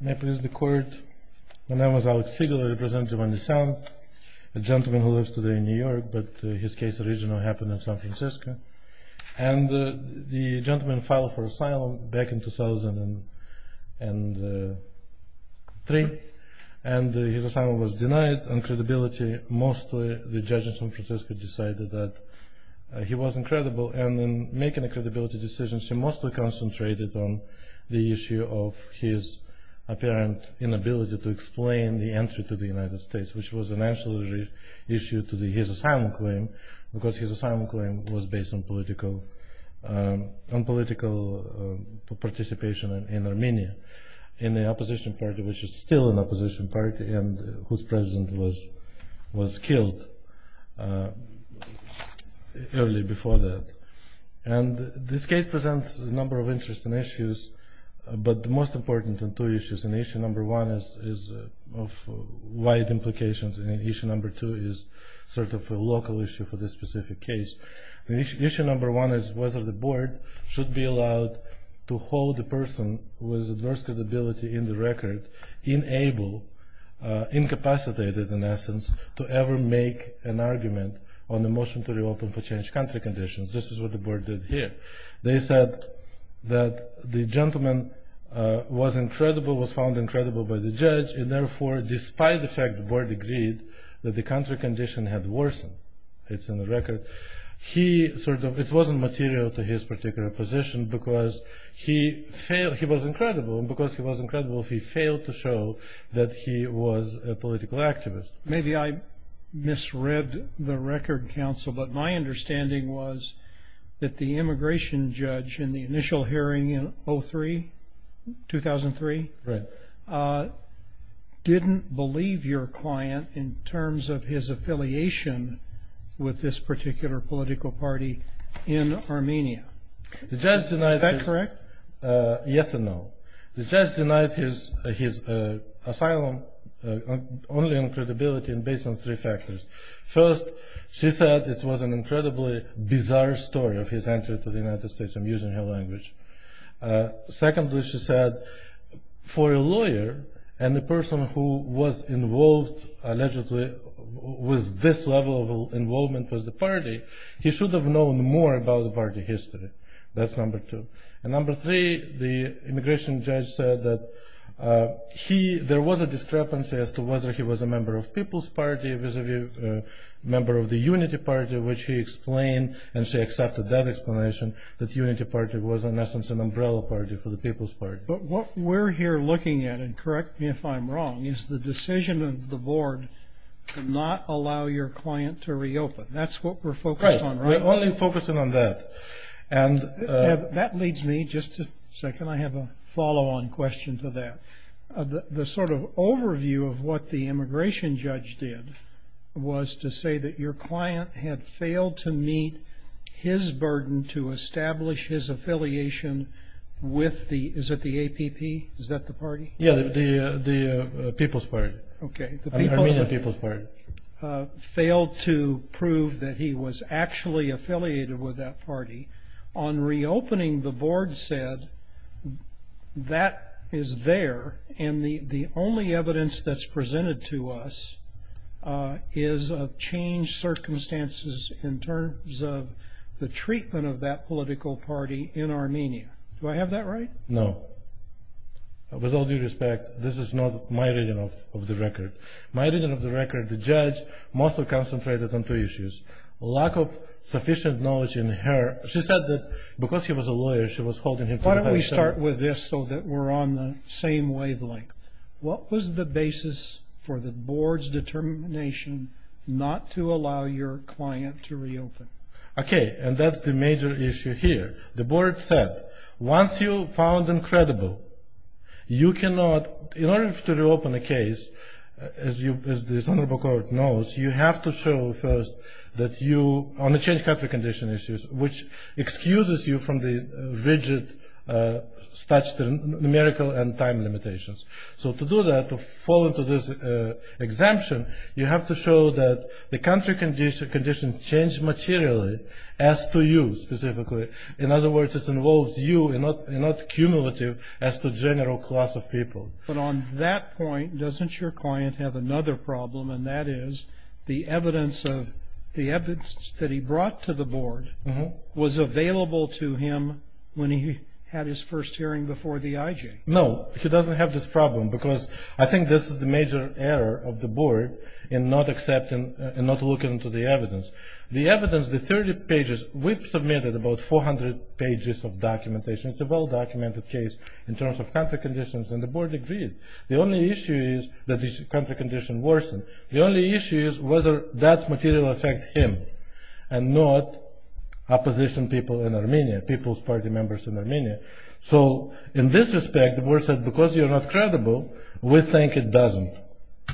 May it please the court, my name is Alex Sigler, I represent Jovhanessyan, a gentleman who lives today in New York, but his case originally happened in San Francisco. And the gentleman filed for asylum back in 2003, and his asylum was denied, and credibility, mostly the judge in San Francisco decided that he wasn't credible. And in making a credibility decision, she mostly concentrated on the issue of his apparent inability to explain the entry to the United States, which was an actual issue to his asylum claim, because his asylum claim was based on political participation in Armenia, in the opposition party, which is still an opposition party, and whose president was killed early before that. And this case presents a number of interesting issues, but the most important of two issues. And issue number one is of wide implications, and issue number two is sort of a local issue for this specific case. Issue number one is whether the board should be allowed to hold a person with adverse credibility in the record, in able, incapacitated in essence, to ever make an argument on the motion to reopen for changed country conditions. This is what the board did here. They said that the gentleman was incredible, was found incredible by the judge, and therefore, despite the fact the board agreed that the country condition had worsened, it's in the record, he sort of, it wasn't material to his particular position, because he failed, he was incredible, and because he was incredible, he failed to show that he was a political activist. Maybe I misread the record, counsel, but my understanding was that the immigration judge in the initial hearing in 2003, didn't believe your client in terms of his affiliation with this particular political party in Armenia. Is that correct? Yes and no. The judge denied his asylum only on credibility and based on three factors. First, she said it was an incredibly bizarre story of his entry to the United States. I'm using her language. Secondly, she said, for a lawyer and the person who was involved allegedly with this level of involvement with the party, he should have known more about the party history. That's number two. And number three, the immigration judge said that he, there was a discrepancy as to whether he was a member of People's Party vis-a-vis a member of the Unity Party, which he explained, and she accepted that explanation, that Unity Party was in essence an umbrella party for the People's Party. But what we're here looking at, and correct me if I'm wrong, is the decision of the board to not allow your client to reopen. That's what we're focused on, right? Right. We're only focusing on that. And that leads me, just a second, I have a follow-on question to that. The sort of overview of what the immigration judge did was to say that your client had failed to meet his burden to establish his affiliation with the, is it the APP? Is that the party? Yeah, the People's Party. Okay. The Armenian People's Party. Failed to prove that he was actually affiliated with that party. On reopening, the board said that is there, and the only evidence that's presented to us is of changed circumstances in terms of the treatment of that political party in Armenia. Do I have that right? No. With all due respect, this is not my reading of the record. My reading of the record, the judge mostly concentrated on two issues. Lack of sufficient knowledge in her. She said that because he was a lawyer, she was holding him to that. Why don't we start with this so that we're on the same wavelength. What was the basis for the board's determination not to allow your client to reopen? Okay. And that's the major issue here. The board said, once you found him credible, you cannot, in order to reopen a case, as this honorable court knows, you have to show first that you, on the changed country condition issues, which excuses you from the rigid numerical and time limitations. So to do that, to fall into this exemption, you have to show that the country condition changed materially, as to you specifically. In other words, it involves you and not cumulative as to general class of people. But on that point, doesn't your client have another problem, and that is the evidence that he brought to the board was available to him when he had his first hearing before the IJ? No. He doesn't have this problem because I think this is the major error of the board in not accepting and not looking into the evidence. The evidence, the 30 pages, we've submitted about 400 pages of documentation. It's a well-documented case in terms of country conditions, and the board agreed. The only issue is that the country condition worsened. The only issue is whether that material affects him and not opposition people in Armenia, people's party members in Armenia. So in this respect, the board said, because you're not credible, we think it doesn't.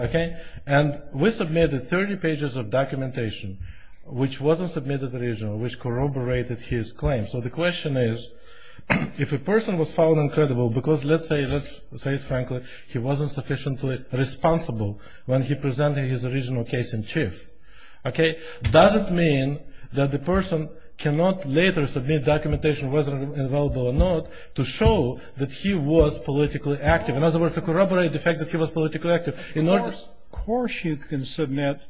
Okay? And we submitted 30 pages of documentation, which wasn't submitted originally, which corroborated his claim. So the question is, if a person was found uncredible because, let's say, let's say it frankly, he wasn't sufficiently responsible when he presented his original case in chief, okay, does it mean that the person cannot later submit documentation, whether it's available or not, to show that he was politically active, in other words, to corroborate the fact that he was politically active. Of course you can submit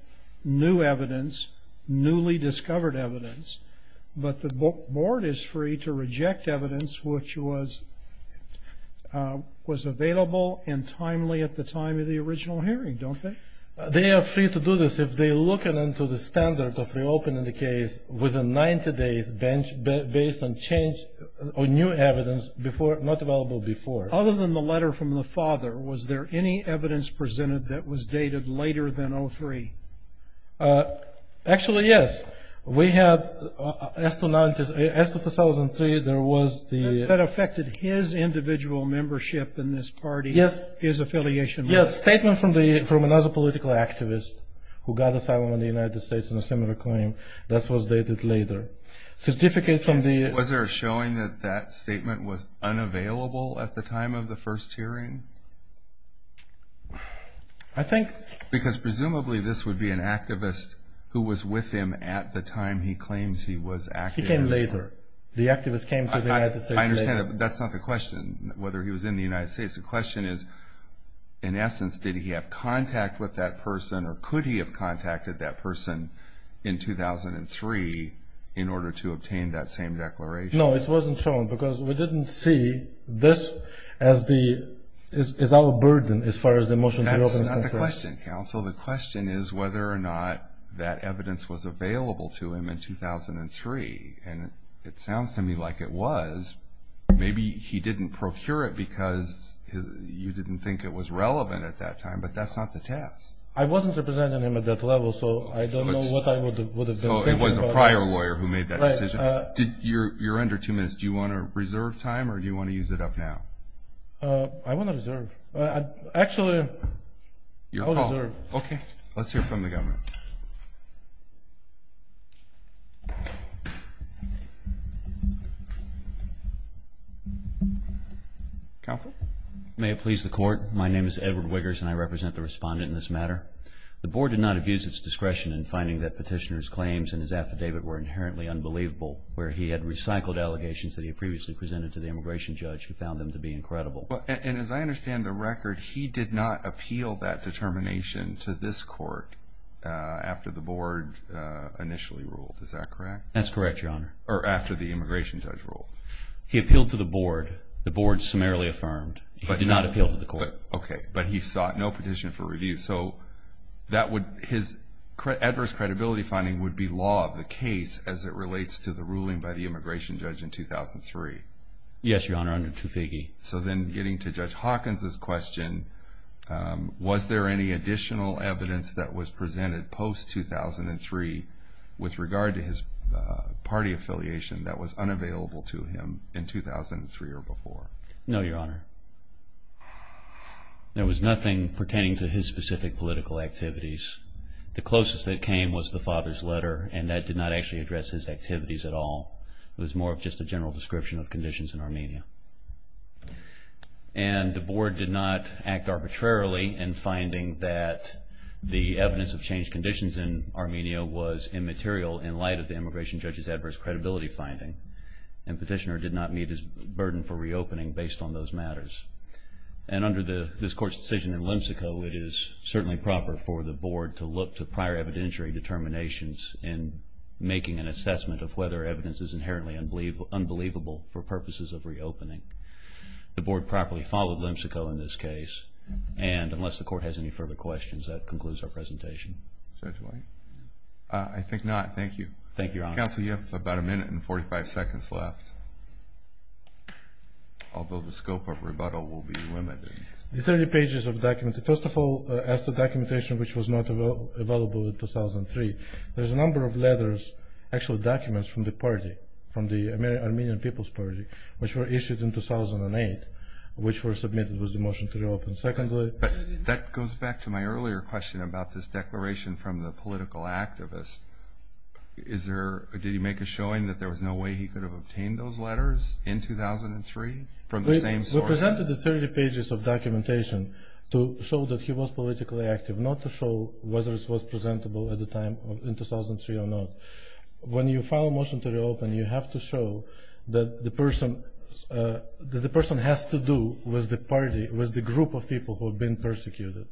new evidence, newly discovered evidence, but the board is free to reject evidence which was available and timely at the time of the original hearing, don't they? They are free to do this if they look into the standard of reopening the case within 90 days, based on change or new evidence not available before. Other than the letter from the father, was there any evidence presented that was dated later than 2003? Actually, yes. We have, as of 2003, there was the- That affected his individual membership in this party, his affiliation with it. Yes, statement from another political activist who got asylum in the United States in a similar claim. This was dated later. Was there a showing that that statement was unavailable at the time of the first hearing? I think- Because presumably this would be an activist who was with him at the time he claims he was active. He came later. The activist came to the United States later. I understand that, but that's not the question, whether he was in the United States. The question is, in essence, did he have contact with that person, or could he have contacted that person in 2003 in order to obtain that same declaration? No, it wasn't shown because we didn't see this as our burden as far as the motion to reopen- That's not the question, counsel. The question is whether or not that evidence was available to him in 2003. And it sounds to me like it was. Maybe he didn't procure it because you didn't think it was relevant at that time, but that's not the test. I wasn't representing him at that level, so I don't know what I would have been thinking about. Oh, it was a prior lawyer who made that decision? Right. You're under two minutes. Do you want to reserve time, or do you want to use it up now? I want to reserve. Actually, I'll reserve. Okay. Let's hear from the government. Counsel? May it please the Court. My name is Edward Wiggers, and I represent the respondent in this matter. The Board did not abuse its discretion in finding that Petitioner's claims in his affidavit were inherently unbelievable, where he had recycled allegations that he had previously presented to the immigration judge who found them to be incredible. And as I understand the record, he did not appeal that determination to this Court after the Board initially ruled. Is that correct? That's correct, Your Honor. Or after the immigration judge ruled. He appealed to the Board. The Board summarily affirmed. He did not appeal to the Court. Okay. But he sought no petition for review. So his adverse credibility finding would be law of the case as it relates to the ruling by the immigration judge in 2003. Yes, Your Honor. Under Tufegi. So then getting to Judge Hawkins' question, was there any additional evidence that was presented post-2003 with regard to his party affiliation that was unavailable to him in 2003 or before? No, Your Honor. There was nothing pertaining to his specific political activities. The closest that came was the father's letter, and that did not actually address his activities at all. It was more of just a general description of conditions in Armenia. And the Board did not act arbitrarily in finding that the evidence of changed conditions in Armenia was immaterial in light of the immigration judge's adverse credibility finding. And Petitioner did not meet his burden for reopening based on those matters. And under this Court's decision in Lemsiko, it is certainly proper for the Board to look to prior evidentiary determinations in making an assessment of whether evidence is inherently unbelievable for purposes of reopening. The Board properly followed Lemsiko in this case. And unless the Court has any further questions, that concludes our presentation. Judge White? I think not. Thank you. Thank you, Your Honor. Counsel, you have about a minute and 45 seconds left, although the scope of rebuttal will be limited. The 30 pages of the document, first of all, as the documentation which was not available in 2003, there's a number of letters, actual documents from the party, from the Armenian People's Party, which were issued in 2008, which were submitted with the motion to reopen. But that goes back to my earlier question about this declaration from the political activist. Did he make a showing that there was no way he could have obtained those letters in 2003 from the same source? We presented the 30 pages of documentation to show that he was politically active, not to show whether it was presentable at the time in 2003 or not. When you file a motion to reopen, you have to show that the person has to do with the party, with the group of people who have been persecuted.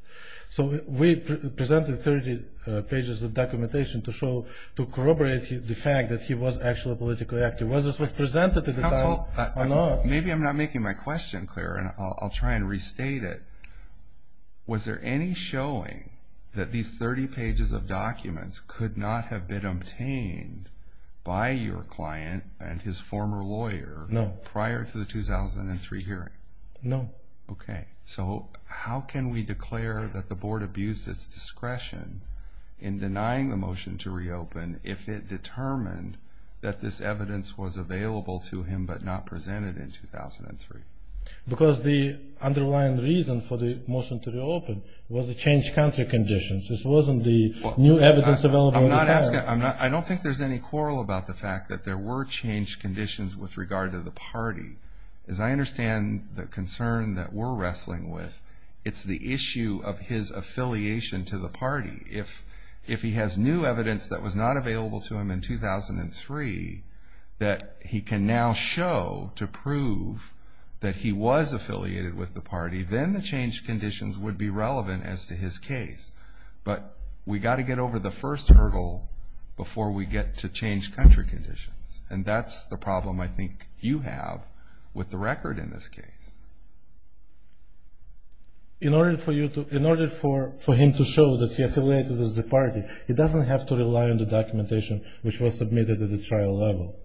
So we presented 30 pages of documentation to corroborate the fact that he was actually politically active, whether it was presented at the time or not. Maybe I'm not making my question clear, and I'll try and restate it. Was there any showing that these 30 pages of documents could not have been obtained by your client and his former lawyer prior to the 2003 hearing? No. Okay. So how can we declare that the board abused its discretion in denying the motion to reopen if it determined that this evidence was available to him but not presented in 2003? Because the underlying reason for the motion to reopen was the changed country conditions. This wasn't the new evidence available at the time. I don't think there's any quarrel about the fact that there were changed conditions with regard to the party. As I understand the concern that we're wrestling with, it's the issue of his affiliation to the party. If he has new evidence that was not available to him in 2003, that he can now show to prove that he was affiliated with the party, then the changed conditions would be relevant as to his case. But we've got to get over the first hurdle before we get to changed country conditions, and that's the problem I think you have with the record in this case. In order for him to show that he is affiliated with the party, he doesn't have to rely on the documentation which was submitted at the trial level.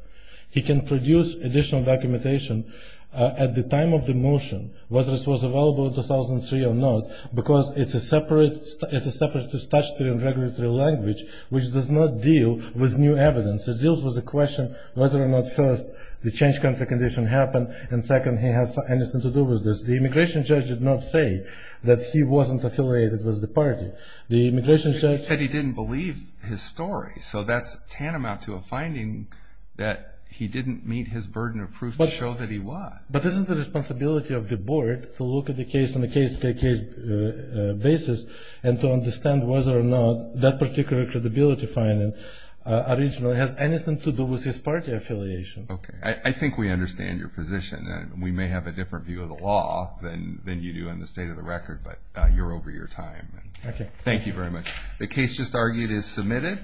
He can produce additional documentation at the time of the motion, whether it was available in 2003 or not, because it's a separate statutory and regulatory language which does not deal with new evidence. It deals with the question whether or not first the changed country condition happened, and second, he has anything to do with this. The immigration judge did not say that he wasn't affiliated with the party. He said he didn't believe his story, so that's tantamount to a finding that he didn't meet his burden of proof to show that he was. But this is the responsibility of the board to look at the case on a case-by-case basis and to understand whether or not that particular credibility finding originally has anything to do with his party affiliation. Okay. I think we understand your position. We may have a different view of the law than you do in the state of the record, but you're over your time. Thank you. Thank you very much. The case just argued is submitted.